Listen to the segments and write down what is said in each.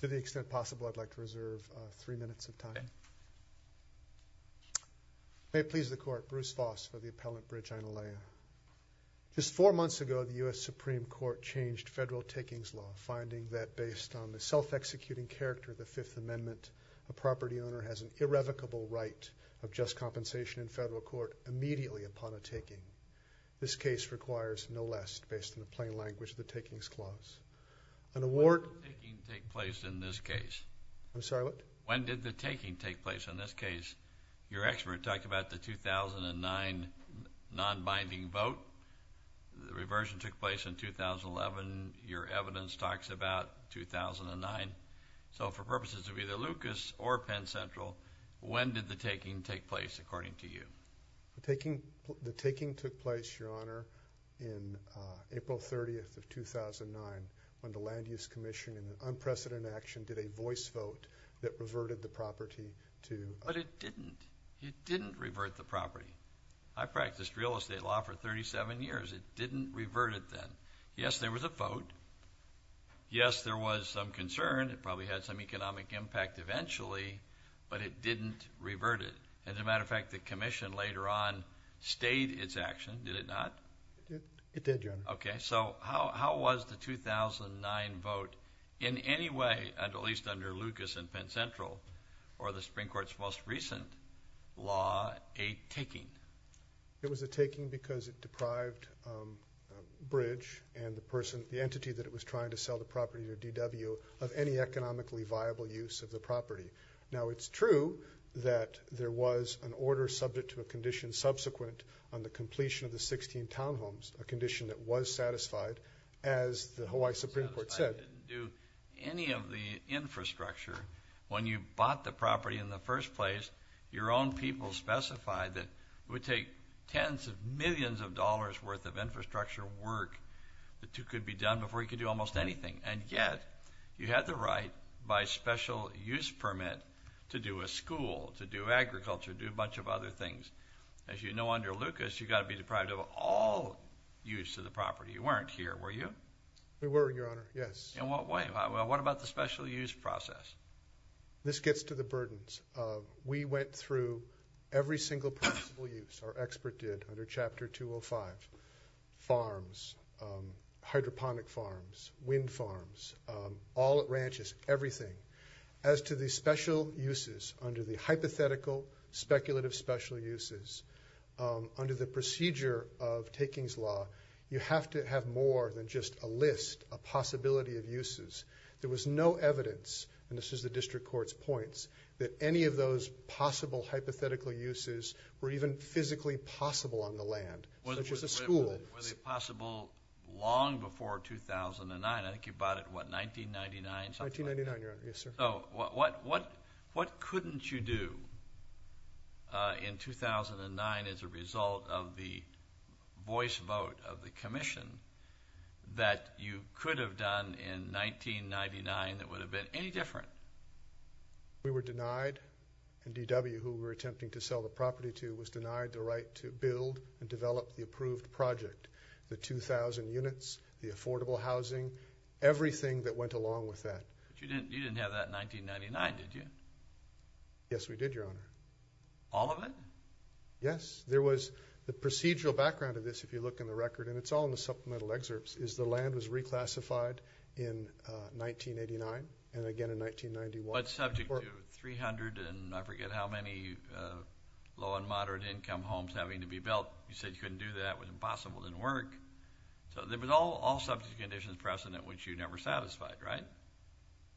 To the extent possible, I'd like to reserve three minutes of time. May it please the Court, Bruce Voss for the appellant, Bridge Aina Le'a. Just four months ago, the U.S. Supreme Court changed federal takings law, finding that based on the self-executing character of the Fifth Amendment, a property owner has an irrevocable right of just compensation in federal court immediately upon a taking. This case requires no less based on the plain language of the takings clause. When did the taking take place in this case? I'm sorry, what? When did the taking take place in this case? Your expert talked about the 2009 non-binding vote. The reversion took place in 2011. Your evidence talks about 2009. So for purposes of either Lucas or Penn Central, when did the taking take place according to you? The taking took place, Your Honor, in April 30th of 2009 when the Land Use Commission in unprecedented action did a voice vote that reverted the property to... But it didn't. It didn't revert the property. I practiced real estate law for 37 years. It didn't revert it then. Yes, there was a vote. Yes, there was some concern. It probably had some economic impact eventually, but it didn't revert it. As a matter of fact, the commission later on stayed its action, did it not? It did, Your Honor. Okay, so how was the 2009 vote in any way, at least under Lucas and Penn Central, or the Supreme Court's most recent law, a taking? It was a taking because it deprived Bridge and the entity that it was trying to sell the property to, DW, of any economically viable use of the property. Now, it's true that there was an order subject to a condition subsequent on the completion of the 16 townhomes, a condition that was satisfied, as the Hawaii Supreme Court said. Satisfied didn't do any of the infrastructure. When you bought the property in the first place, your own people specified that it would take tens of millions of dollars' worth of infrastructure work that could be done before you could do almost anything. And yet, you had the right by special use permit to do a school, to do agriculture, to do a bunch of other things. As you know, under Lucas, you've got to be deprived of all use of the property. You weren't here, were you? We were, Your Honor, yes. In what way? What about the special use process? This gets to the burdens. We went through every single possible use. Our expert did under Chapter 205. Farms, hydroponic farms, wind farms, all at ranches, everything. As to the special uses under the hypothetical speculative special uses, under the procedure of Takings Law, you have to have more than just a list, a possibility of uses. There was no evidence, and this is the district court's points, that any of those possible hypothetical uses were even physically possible on the land. It was a school. Were they possible long before 2009? I think you bought it, what, 1999? 1999, Your Honor. Yes, sir. What couldn't you do in 2009 as a result of the voice vote of the commission that you could have done in 1999 that would have been any different? We were denied, and DW, who we were attempting to sell the property to, was denied the right to build and develop the approved project. The 2,000 units, the affordable housing, everything that went along with that. You didn't have that in 1999, did you? Yes, we did, Your Honor. All of it? Yes. There was the procedural background of this, if you look in the record, and it's all in the supplemental excerpts, is the land was reclassified in 1989 and again in 1991. But subject to 300 and I forget how many low and moderate income homes having to be built. You said you couldn't do that. It was impossible. It didn't work. So there was all subject to conditions precedent, which you never satisfied, right?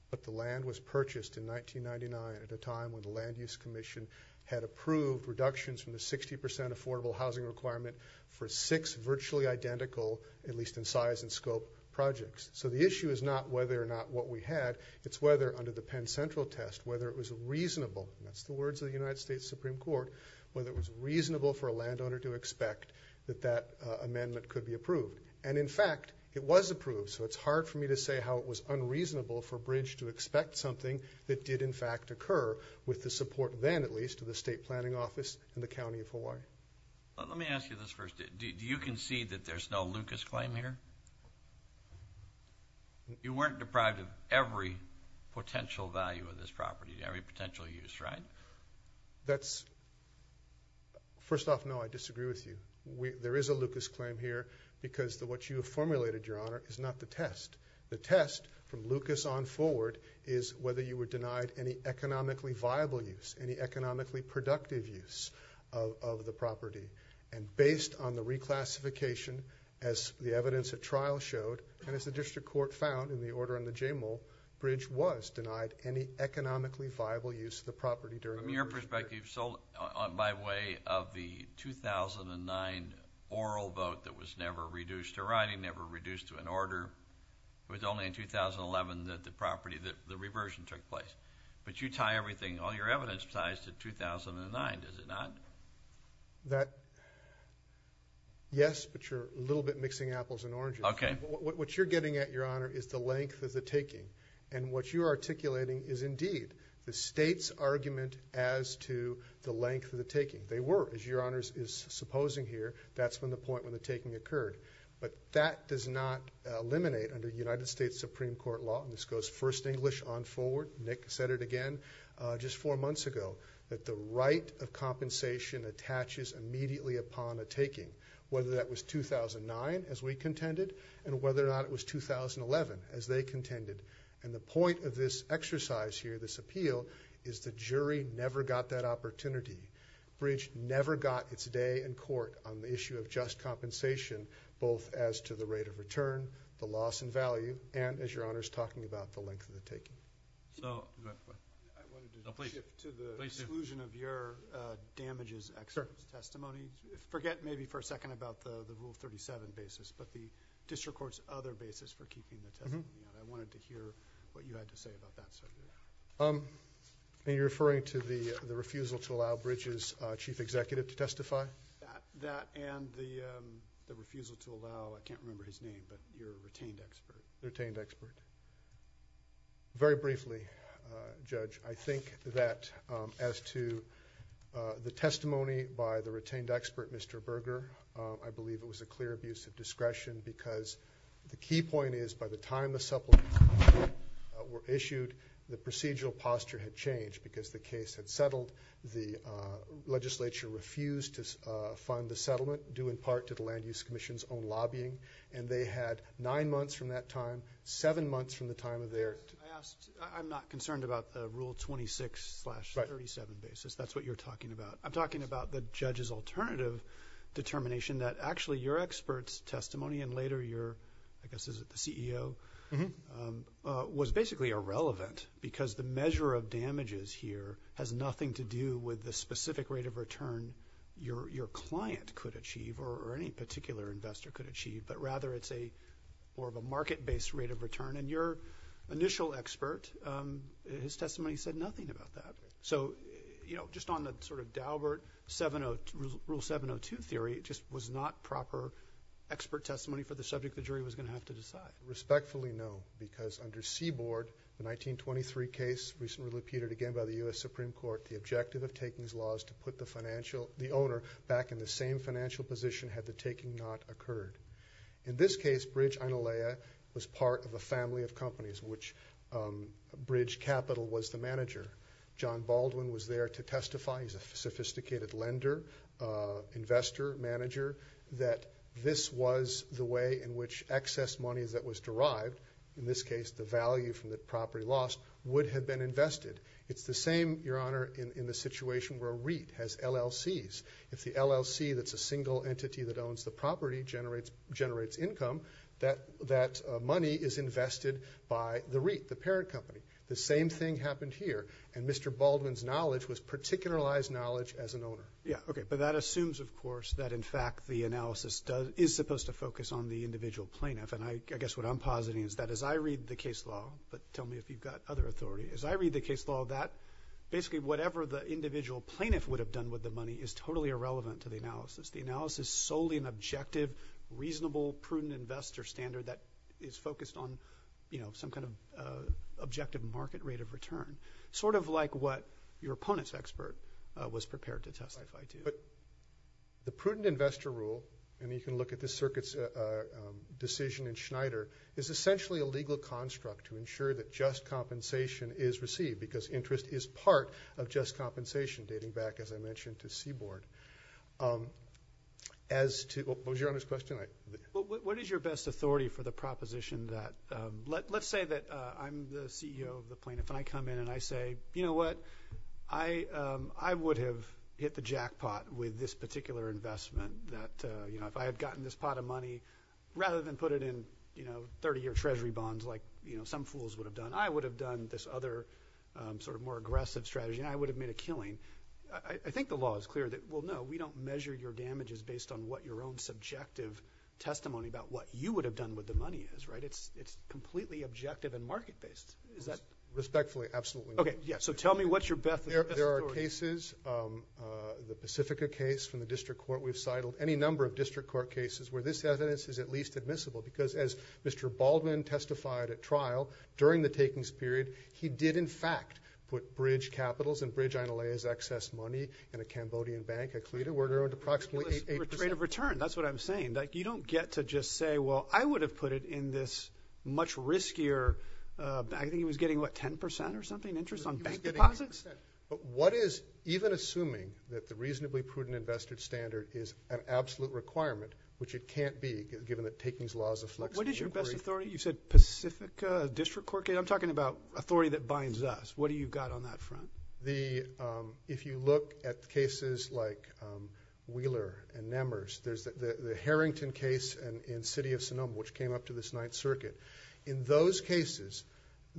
But the land was purchased in 1999 at a time when the Land Use Commission had approved reductions from the 60% affordable housing requirement for six virtually identical, at least in size and scope, projects. So the issue is not whether or not what we had, it's whether under the Penn Central test, whether it was reasonable, and that's the words of the United States Supreme Court, whether it was reasonable for a landowner to expect that that amendment could be approved. And, in fact, it was approved, so it's hard for me to say how it was unreasonable for Bridge to expect something that did, in fact, occur with the support then, at least, of the State Planning Office in the County of Hawaii. Let me ask you this first. Do you concede that there's no Lucas claim here? You weren't deprived of every potential value of this property, every potential use, right? That's – first off, no, I disagree with you. There is a Lucas claim here because what you have formulated, Your Honor, is not the test. The test, from Lucas on forward, is whether you were denied any economically viable use, any economically productive use of the property. And based on the reclassification, as the evidence at trial showed, and as the district court found in the order in the J. Moule, Bridge was denied any economically viable use of the property during – From your perspective, so by way of the 2009 oral vote that was never reduced to writing, never reduced to an order, it was only in 2011 that the property, that the reversion took place. But you tie everything, all your evidence ties to 2009, does it not? That – yes, but you're a little bit mixing apples and oranges. Okay. What you're getting at, Your Honor, is the length of the taking. And what you're articulating is indeed the State's argument as to the length of the taking. They were, as Your Honor is supposing here, that's from the point when the taking occurred. But that does not eliminate, under United States Supreme Court law, and this goes first English on forward, Nick said it again just four months ago, that the right of compensation attaches immediately upon a taking, whether that was 2009, as we contended, and whether or not it was 2011, as they contended. And the point of this exercise here, this appeal, is the jury never got that opportunity. Bridge never got its day in court on the issue of just compensation, both as to the rate of return, the loss in value, and as Your Honor is talking about, the length of the taking. So... I wanted to shift to the exclusion of your damages expert testimony. Forget maybe for a second about the Rule 37 basis, but the district court's other basis for keeping the testimony out. I wanted to hear what you had to say about that, sir. Are you referring to the refusal to allow Bridge's chief executive to testify? That and the refusal to allow, I can't remember his name, but your retained expert. Retained expert. Very briefly, Judge, I think that as to the testimony by the retained expert, Mr. Berger, I believe it was a clear abuse of discretion because the key point is, by the time the supplements were issued, the procedural posture had changed because the case had settled. The legislature refused to fund the settlement, due in part to the Land Use Commission's own lobbying, and they had nine months from that time, seven months from the time of their... I'm not concerned about the Rule 26-37 basis. That's what you're talking about. I'm talking about the judge's alternative determination that actually, your expert's testimony and later your... I guess, is it the CEO? Was basically irrelevant because the measure of damages here has nothing to do with the specific rate of return your client could achieve or any particular investor could achieve, but rather it's more of a market-based rate of return. Your initial expert, his testimony said nothing about that. Just on the sort of Daubert Rule 702 theory, it just was not proper expert testimony for the subject the jury was going to have to decide. Respectfully, no, because under Seaboard, the 1923 case, which was repeated again by the U.S. Supreme Court, the objective of taking these laws to put the owner back in the same financial position had the taking not occurred. In this case, Bridge Inalaia was part of a family of companies, which Bridge Capital was the manager. John Baldwin was there to testify. He's a sophisticated lender, investor, manager, that this was the way in which excess money that was derived, in this case the value from the property lost, would have been invested. It's the same, Your Honor, in the situation where REIT has LLCs. If the LLC that's a single entity that owns the property generates income, that money is invested by the REIT, the parent company. The same thing happened here, and Mr. Baldwin's knowledge was particularized knowledge as an owner. But that assumes, of course, that, in fact, the analysis is supposed to focus on the individual plaintiff, and I guess what I'm positing is that as I read the case law, but tell me if you've got other authority, as I read the case law, that basically whatever the individual plaintiff would have done with the money is totally irrelevant to the analysis. The analysis is solely an objective, reasonable, prudent investor standard that is focused on some kind of objective market rate of return, sort of like what your opponent's expert was prepared to testify to. The prudent investor rule, and you can look at this circuit's decision in Schneider, is essentially a legal construct to ensure that just compensation is received because interest is part of just compensation, dating back, as I mentioned, to Seaboard. What was Your Honor's question? What is your best authority for the proposition that, let's say that I'm the CEO of the plaintiff, and I come in and I say, you know what, I would have hit the jackpot with this particular investment, that if I had gotten this pot of money, rather than put it in 30-year Treasury bonds like some fools would have done, I would have done this other sort of more aggressive strategy and I would have made a killing. I think the law is clear that, well, no, we don't measure your damages based on what your own subjective testimony about what you would have done with the money is, right? It's completely objective and market-based. Is that... Respectfully, absolutely. Okay. Yeah. So tell me what's your best authority. There are cases, the Pacifica case from the district court, we've sidled any number of district court cases where this evidence is at least admissible because as Mr. Baldwin testified at trial during the takings period, he did, in fact, put bridge capitals and bridge inalays, excess money in a Cambodian bank, a Clita, where it owed approximately 8%... Rate of return. That's what I'm saying. You don't get to just say, well, I would have put it in this much riskier... I think he was getting, what, 10% or something, interest on bank deposits? But what is even assuming that the reasonably prudent investor standard is an absolute requirement, which it can't be, given that takings laws... What is your best authority? You said Pacifica district court case. I'm talking about authority that binds us. What do you got on that front? If you look at cases like Wheeler and Nemers, there's the Harrington case in City of Sonoma, which came up to this Ninth Circuit. In those cases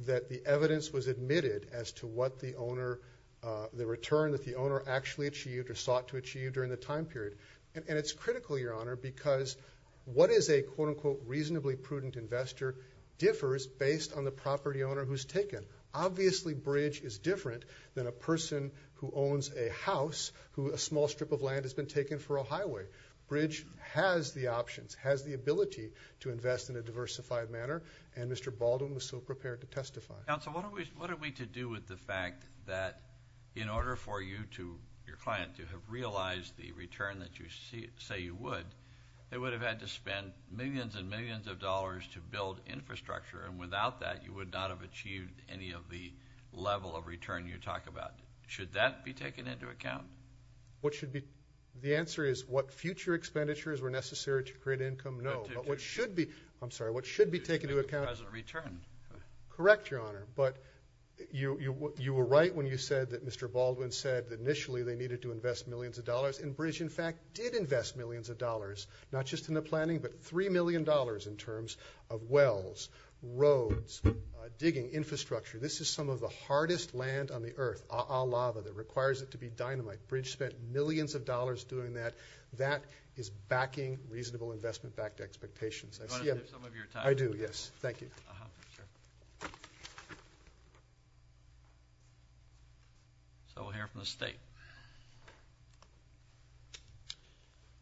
that the evidence was admitted as to what the owner... the return that the owner actually achieved or sought to achieve during the time period. And it's critical, Your Honor, because what is a quote-unquote reasonably prudent investor differs based on the property owner who's taken. Obviously, Bridge is different than a person who owns a house who a small strip of land has been taken for a highway. Bridge has the options, has the ability to invest in a diversified manner, and Mr. Baldwin was so prepared to testify. Counsel, what are we to do with the fact that in order for you to... your client to have realized the return that you say you would, they would have had to spend millions and millions of dollars to build infrastructure, and without that, you would not have achieved any of the level of return you talk about. Should that be taken into account? What should be... The answer is what future expenditures were necessary to create income? No. But what should be... I'm sorry. What should be taken into account... Present return. Correct, Your Honor. But you were right when you said that Mr. Baldwin said that initially they needed to invest millions of dollars, and Bridge, in fact, did invest millions of dollars, not just in the planning, but $3 million in terms of wells, roads, digging, infrastructure. This is some of the hardest land on the Earth, all lava that requires it to be dynamite. Bridge spent millions of dollars doing that. That is backing reasonable investment-backed expectations. I see... Do you want to give some of your time? I do, yes. Thank you. So we'll hear from the State.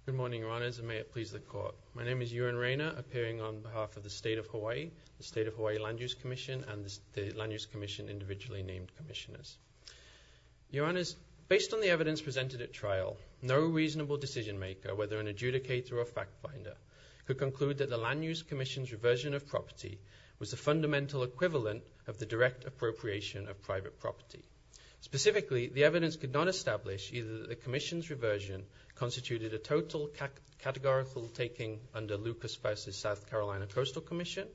Good morning, Your Honors, and may it please the Court. My name is Ewan Rayner, appearing on behalf of the State of Hawaii, the State of Hawaii Land Use Commission, and the Land Use Commission individually named commissioners. Your Honors, based on the evidence presented at trial, no reasonable decision-maker, whether an adjudicator or a fact-finder, could conclude that the Land Use Commission's reversion of property was the fundamental equivalent of the direct appropriation of private property. Specifically, the evidence could not establish either that the commission's reversion constituted a total categorical taking under Lucas-Spice's South Carolina Coastal Commission,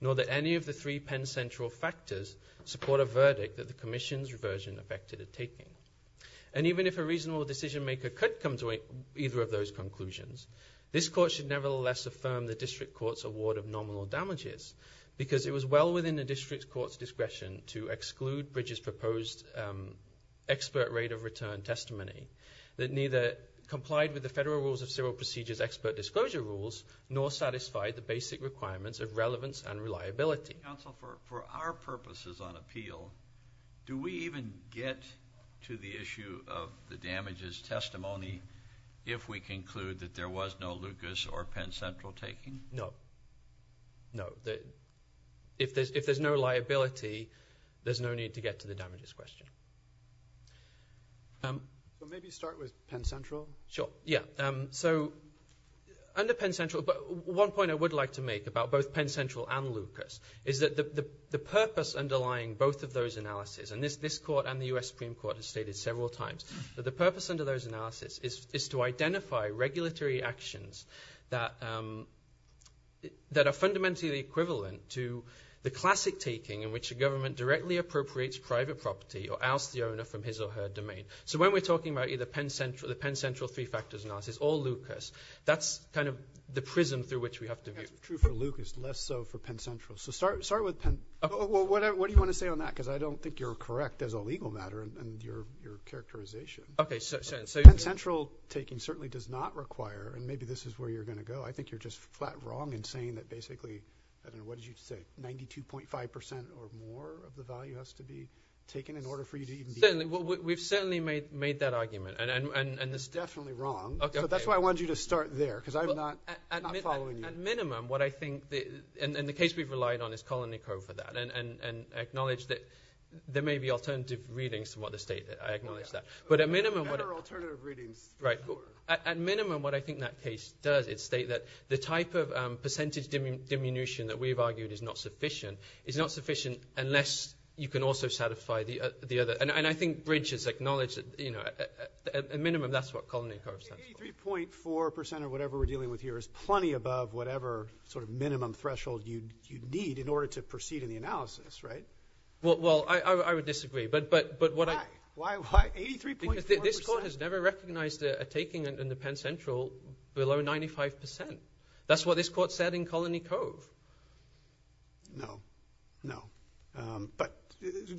nor that any of the three Penn Central factors support a verdict that the commission's reversion affected a taking. And even if a reasonable decision-maker could come to either of those conclusions, this Court should nevertheless affirm the District Court's award of nominal damages because it was well within the District Court's discretion to exclude Bridges' proposed expert rate-of-return testimony that neither complied with the Federal Rules of Civil Procedure's expert disclosure rules, nor satisfied the basic requirements of relevance and reliability. Counsel, for our purposes on appeal, do we even get to the issue of the damages testimony if we conclude that there was no Lucas or Penn Central taking? No. No. If there's no liability, there's no need to get to the damages question. Maybe start with Penn Central? Sure. Yeah. So, under Penn Central, one point I would like to make about both Penn Central and Lucas is that the purpose underlying both of those analyses, and this Court and the U.S. Supreme Court have stated several times, that the purpose under those analyses is to identify regulatory actions that are fundamentally equivalent to the classic taking in which a government directly appropriates private property or ousts the owner from his or her domain. So when we're talking about either the Penn Central three-factors analysis or Lucas, that's kind of the prism through which we have to view it. That's true for Lucas, less so for Penn Central. So start with Penn. What do you want to say on that? Because I don't think you're correct as a legal matter in your characterization. Okay. Penn Central taking certainly does not require, and maybe this is where you're going to go, I think you're just flat wrong in saying that basically, I don't know, what did you say, 92.5% or more of the value has to be taken in order for you to even be eligible? We've certainly made that argument. You're definitely wrong. Okay. So that's why I wanted you to start there, because I'm not following you. At minimum, what I think, and the case we've relied on is Colony Co for that, and I acknowledge that there may be alternative readings from what the state, I acknowledge that. But at minimum, what I think that case does is state that the type of percentage diminution that we've argued is not sufficient, is not sufficient unless you can also satisfy the other. And I think Bridges acknowledged that, you know, at minimum that's what Colony Co stands for. 83.4% or whatever we're dealing with here is plenty above whatever sort of the analysis, right? Well, I would disagree. Why? Why 83.4%? Because this court has never recognized a taking in the Penn Central below 95%. That's what this court said in Colony Co. No. No. But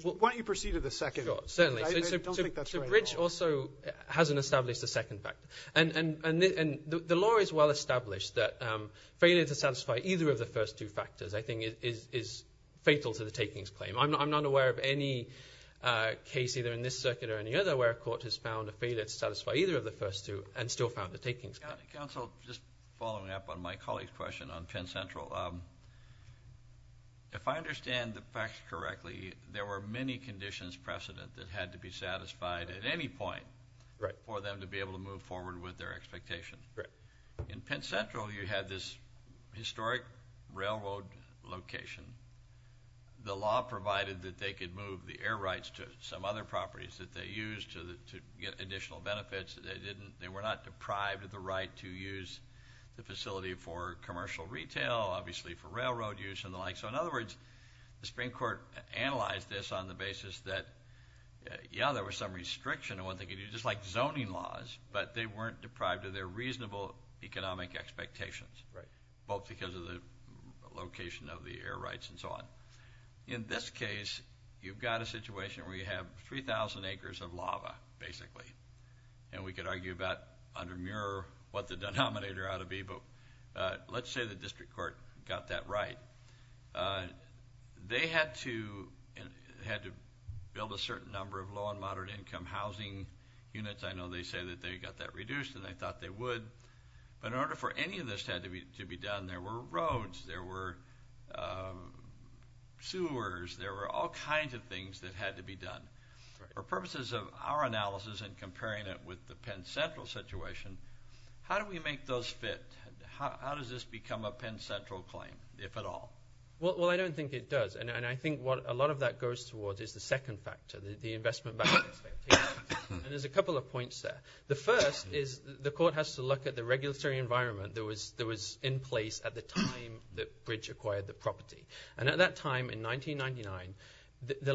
why don't you proceed to the second? Sure. Certainly. I don't think that's right at all. So Bridges also hasn't established a second factor. And the law is well established that failure to satisfy either of the first two is fatal to the takings claim. I'm not aware of any case either in this circuit or any other where a court has found a failure to satisfy either of the first two and still found the takings claim. Counsel, just following up on my colleague's question on Penn Central, if I understand the facts correctly, there were many conditions precedent that had to be satisfied at any point for them to be able to move forward with their expectation. Correct. In Penn Central you had this historic railroad location. The law provided that they could move the air rights to some other properties that they used to get additional benefits. They were not deprived of the right to use the facility for commercial retail, obviously for railroad use and the like. So, in other words, the Supreme Court analyzed this on the basis that, yeah, there was some restriction on what they could do, just like zoning laws, but they weren't deprived of their reasonable economic expectations. Right. Both because of the location of the air rights and so on. In this case, you've got a situation where you have 3,000 acres of lava, basically. And we could argue about under Muir what the denominator ought to be, but let's say the district court got that right. They had to build a certain number of low and moderate income housing units. I know they say that they got that reduced, and they thought they would. But in order for any of this to be done, there were roads, there were sewers, there were all kinds of things that had to be done. For purposes of our analysis and comparing it with the Penn Central situation, how do we make those fit? How does this become a Penn Central claim, if at all? Well, I don't think it does. And I think what a lot of that goes towards is the second factor, the investment benefits. And there's a couple of points there. The first is the court has to look at the regulatory environment that was in place at the time that Bridge acquired the property. And at that time, in 1999, the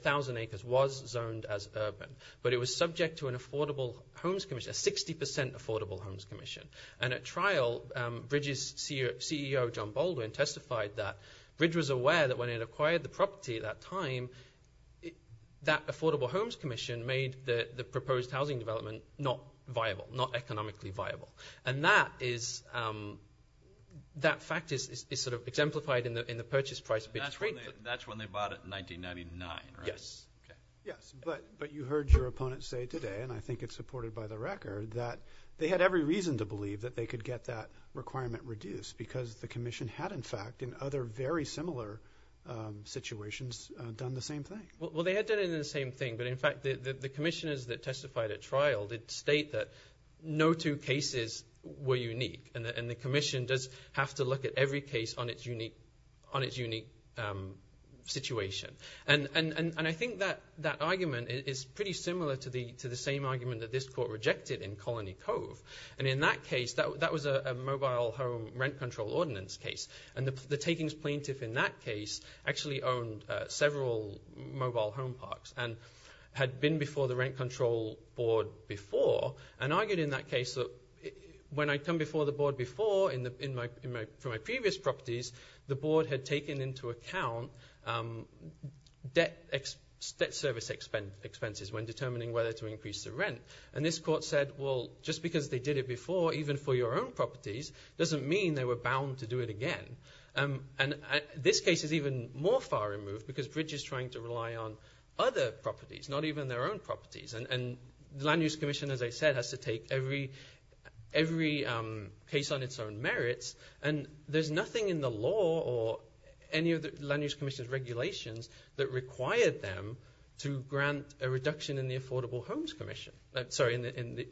1,000 acres was zoned as urban, but it was subject to an affordable homes commission, a 60% affordable homes commission. And at trial, Bridge's CEO, John Baldwin, testified that Bridge was aware that when it acquired the property at that time, that affordable homes commission made the proposed housing development not viable, not economically viable. And that fact is sort of exemplified in the purchase price of Bridge. That's when they bought it in 1999, right? Yes. Yes, but you heard your opponent say today, and I think it's supported by the record, that they had every reason to believe that they could get that requirement reduced because the commission had, in fact, in other very similar situations, done the same thing. Well, they had done it in the same thing, but in fact the commissioners that testified at trial did state that no two cases were unique, and the commission does have to look at every case on its unique situation. And I think that argument is pretty similar to the same argument that this court rejected in Colony Cove. And in that case, that was a mobile home rent control ordinance case, and the takings plaintiff in that case actually owned several mobile home parks and had been before the rent control board before and argued in that case that when I'd come before the board before for my previous properties, the board had taken into account debt service expenses when determining whether to increase the rent. And this court said, well, just because they did it before, even for your own properties, doesn't mean they were bound to do it again. And this case is even more far removed because Bridges is trying to rely on other properties, not even their own properties. And the Land Use Commission, as I said, has to take every case on its own merits, and there's nothing in the law or any of the Land Use Commission's regulations that required them to grant a reduction in the Affordable Homes Commission. Sorry, in the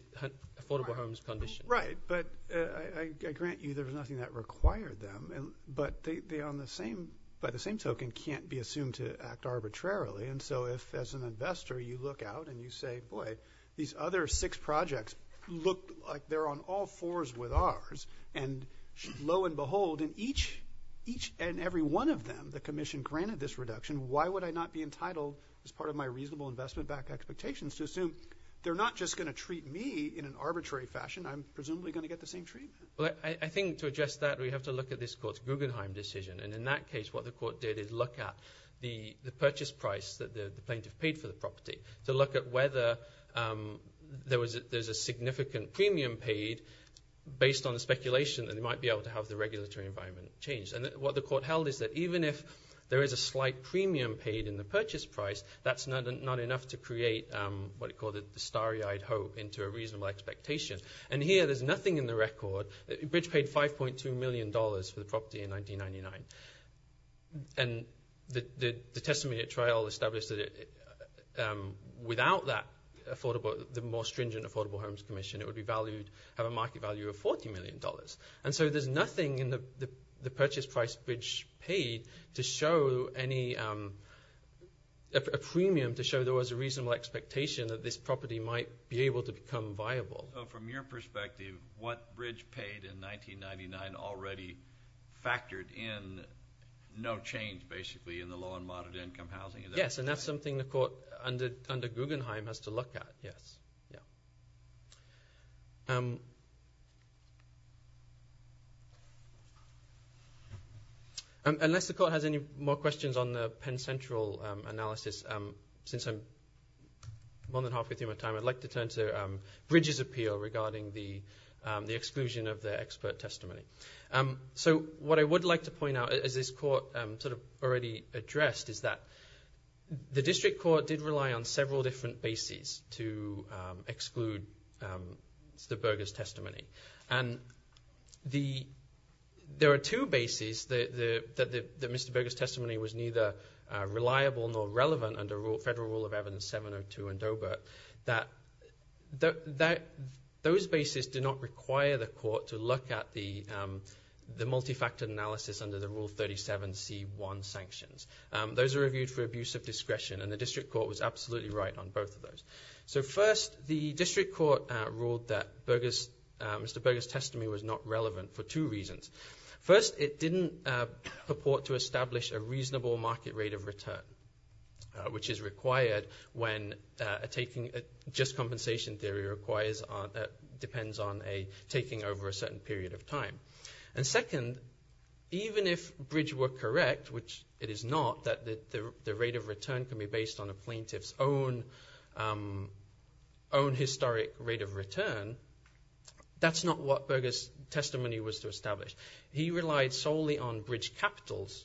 Affordable Homes Condition. Right, but I grant you there was nothing that required them, but by the same token can't be assumed to act arbitrarily. And so if as an investor you look out and you say, boy, these other six projects look like they're on all fours with ours, and lo and behold, in each and every one of them, the commission granted this reduction, why would I not be entitled, as part of my reasonable investment-backed expectations, to assume they're not just going to treat me in an arbitrary fashion, I'm presumably going to get the same treatment? Well, I think to address that, we have to look at this court's Guggenheim decision. And in that case, what the court did is look at the purchase price that the plaintiff paid for the property to look at whether there's a significant premium paid based on the speculation that they might be able to have the regulatory environment changed. And what the court held is that even if there is a slight premium paid in the purchase price, that's not enough to create what it called a starry-eyed hope into a reasonable expectation. And here there's nothing in the record. Bridge paid $5.2 million for the property in 1999. And the testimony at trial established that without that affordable, the more stringent Affordable Homes Commission, it would be valued, have a market value of $40 million. And so there's nothing in the purchase price Bridge paid to show any, a premium to show there was a reasonable expectation that this property might be able to become viable. So from your perspective, what Bridge paid in 1999 already factored in, no change basically in the low and moderate income housing? Yes, and that's something the court under Guggenheim has to look at. Yes, yeah. Unless the court has any more questions on the Penn Central analysis, since I'm more than halfway through my time, I'd like to turn to Bridge's appeal regarding the exclusion of the expert testimony. So what I would like to point out, as this court sort of already addressed, is that the district court did rely on several different bases to exclude Mr. Berger's testimony. And there are two bases that Mr. Berger's testimony was neither reliable nor relevant under Federal Rule of Evidence 702 and Doebert, that those bases do not require the court to look at the multifactored analysis under the Rule 37C1 sanctions. Those are reviewed for abuse of discretion, and the district court was absolutely right on both of those. So first, the district court ruled that Mr. Berger's testimony was not relevant for two reasons. First, it didn't purport to establish a reasonable market rate of return, which is required when a just compensation theory depends on a taking over a certain period of time. And second, even if Bridge were correct, which it is not, that the rate of return can be based on a plaintiff's own historic rate of return, that's not what Berger's testimony was to establish. He relied solely on Bridge Capital's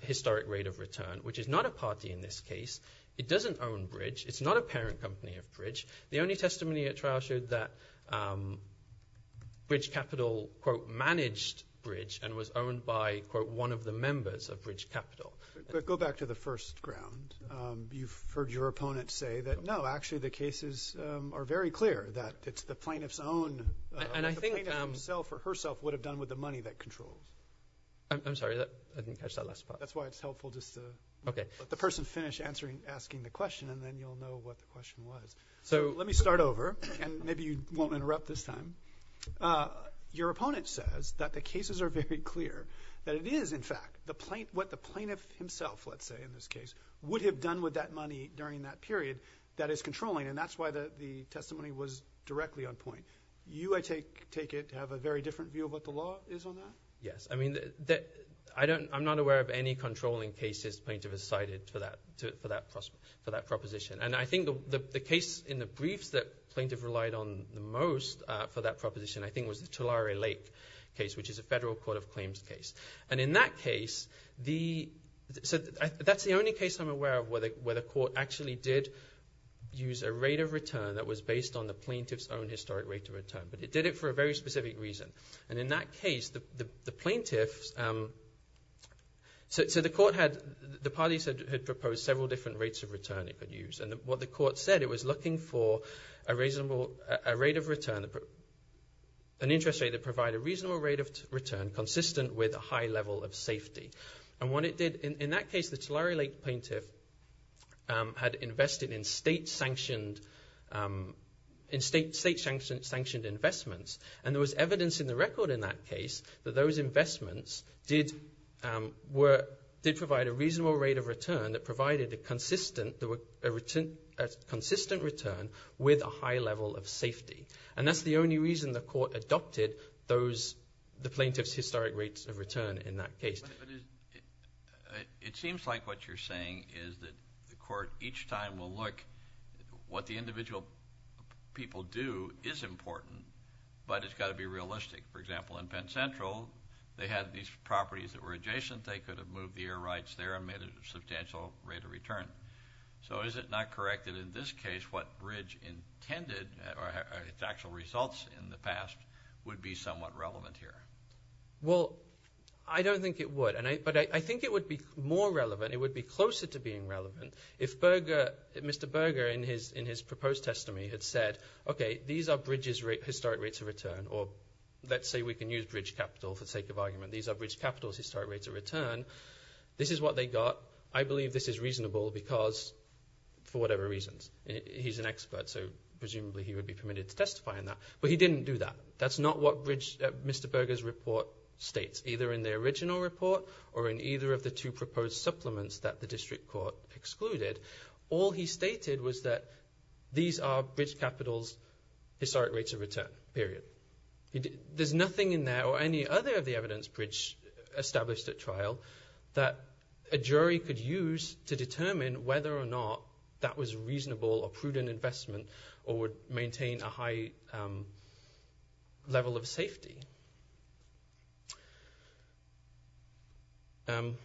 historic rate of return, which is not a party in this case. It doesn't own Bridge. It's not a parent company of Bridge. The only testimony at trial showed that Bridge Capital managed Bridge and was owned by one of the members of Bridge Capital. But go back to the first ground. You've heard your opponent say that, no, actually the cases are very clear, that it's the plaintiff's own. The plaintiff himself or herself would have done with the money that controlled. I'm sorry, I didn't catch that last part. That's why it's helpful just to let the person finish asking the question, and then you'll know what the question was. So let me start over, and maybe you won't interrupt this time. Your opponent says that the cases are very clear, that it is, in fact, what the plaintiff himself, let's say in this case, would have done with that money during that period that is controlling, and that's why the testimony was directly on point. You, I take it, have a very different view of what the law is on that? Yes. I mean, I'm not aware of any controlling cases plaintiff has cited for that proposition. And I think the case in the briefs that plaintiff relied on the most for that proposition I think was the Tulare Lake case, which is a federal court of claims case. And in that case, that's the only case I'm aware of where the court actually did use a rate of return that was based on the plaintiff's own historic rate of return, but it did it for a very specific reason. And in that case, the plaintiff, so the court had, the parties had proposed several different rates of return it could use. And what the court said, it was looking for a reasonable rate of return, an interest rate that provided a reasonable rate of return consistent with a high level of safety. And what it did, in that case, the Tulare Lake plaintiff had invested in state-sanctioned investments, and there was evidence in the record in that case that those investments did provide a reasonable rate of return that provided a consistent return with a high level of safety. And that's the only reason the court adopted the plaintiff's historic rates of return in that case. It seems like what you're saying is that the court each time will look, what the individual people do is important, but it's got to be realistic. For example, in Penn Central, they had these properties that were adjacent. They could have moved the air rights there and made it a substantial rate of return. So is it not correct that in this case, what Bridge intended, or its actual results in the past, would be somewhat relevant here? Well, I don't think it would, but I think it would be more relevant. It would be closer to being relevant. If Mr. Berger, in his proposed testimony, had said, okay, these are Bridge's historic rates of return, or let's say we can use Bridge Capital for the sake of argument. These are Bridge Capital's historic rates of return. This is what they got. I believe this is reasonable for whatever reasons. He's an expert, so presumably he would be permitted to testify on that. But he didn't do that. That's not what Mr. Berger's report states, either in the original report or in either of the two proposed supplements that the district court excluded. All he stated was that these are Bridge Capital's historic rates of return, period. There's nothing in there or any other of the evidence Bridge established at trial that a jury could use to determine whether or not that was a reasonable or prudent investment or would maintain a high level of safety. I'm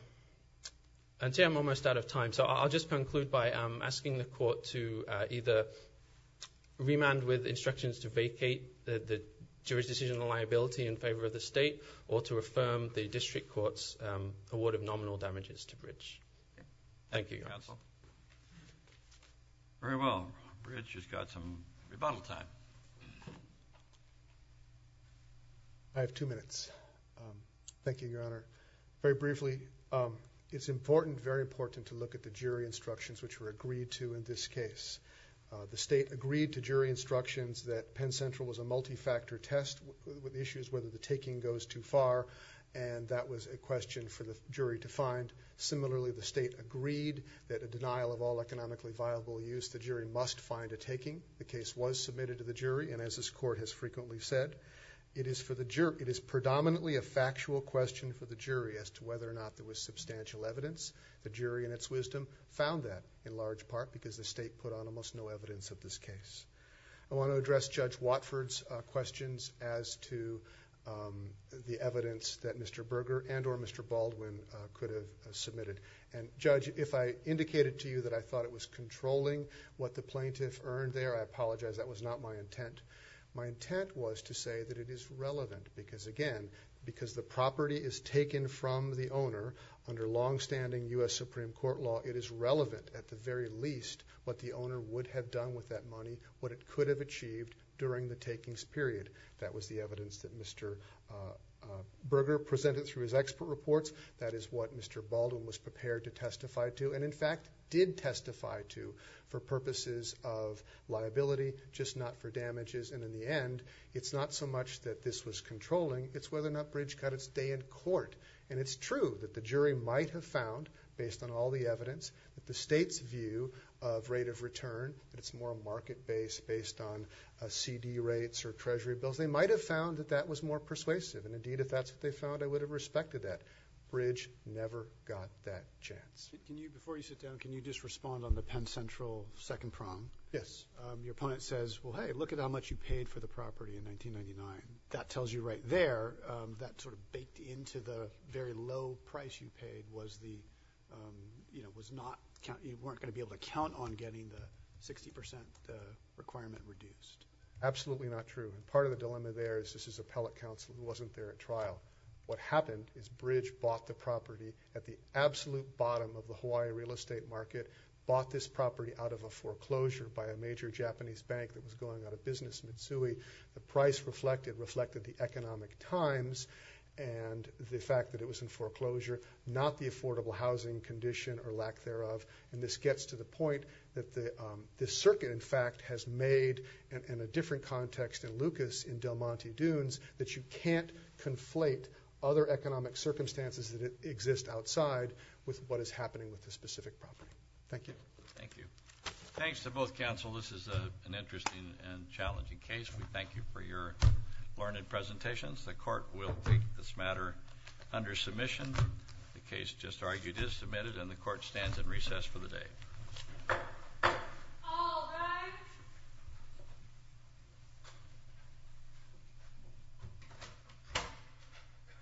almost out of time, so I'll just conclude by asking the court to either remand with instructions to vacate the jury's decision on liability in favor of the state or to affirm the district court's award of nominal damages to Bridge. Thank you, Your Honor. Thank you, counsel. Very well. Bridge has got some rebuttal time. I have two minutes. Thank you, Your Honor. Very briefly, it's important, very important, to look at the jury instructions which were agreed to in this case. The state agreed to jury instructions that Penn Central was a multi-factor test with issues whether the taking goes too far, and that was a question for the jury to find. Similarly, the state agreed that a denial of all economically viable use, the jury must find a taking. The case was submitted to the jury, and as this court has frequently said, it is predominantly a factual question for the jury as to whether or not there was substantial evidence. The jury, in its wisdom, found that in large part because the state put on almost no evidence of this case. I want to address Judge Watford's questions as to the evidence that Mr. Berger and or Mr. Baldwin could have submitted. Judge, if I indicated to you that I thought it was controlling what the plaintiff earned there, I apologize. That was not my intent. My intent was to say that it is relevant because, again, because the property is taken from the owner under longstanding U.S. Supreme Court law, it is relevant at the very least what the owner would have done with that money, what it could have achieved during the takings period. That was the evidence that Mr. Berger presented through his expert reports. That is what Mr. Baldwin was prepared to testify to and, in fact, did testify to for purposes of liability, just not for damages. In the end, it's not so much that this was controlling, it's whether or not Bridge cut its day in court. It's true that the jury might have found, based on all the evidence, that the state's view of rate of return, that it's more market-based based on CD rates or Treasury bills, they might have found that that was more persuasive. And, indeed, if that's what they found, I would have respected that. Bridge never got that chance. Before you sit down, can you just respond on the Penn Central second prong? Yes. Your opponent says, well, hey, look at how much you paid for the property in 1999. That tells you right there that sort of baked into the very low price you paid you weren't going to be able to count on getting the 60% requirement reduced. Absolutely not true. Part of the dilemma there is this is appellate counsel who wasn't there at trial. What happened is Bridge bought the property at the absolute bottom of the Hawaii real estate market, bought this property out of a foreclosure by a major Japanese bank that was going out of business in Missouri. The price reflected the economic times and the fact that it was in foreclosure, not the affordable housing condition or lack thereof. And this gets to the point that this circuit, in fact, has made, in a different context than Lucas in Del Monte Dunes, that you can't conflate other economic circumstances that exist outside with what is happening with this specific property. Thank you. Thank you. Thanks to both counsel. This is an interesting and challenging case. We thank you for your learned presentations. The court will take this matter under submission. The case just argued is submitted, and the court stands at recess for the day.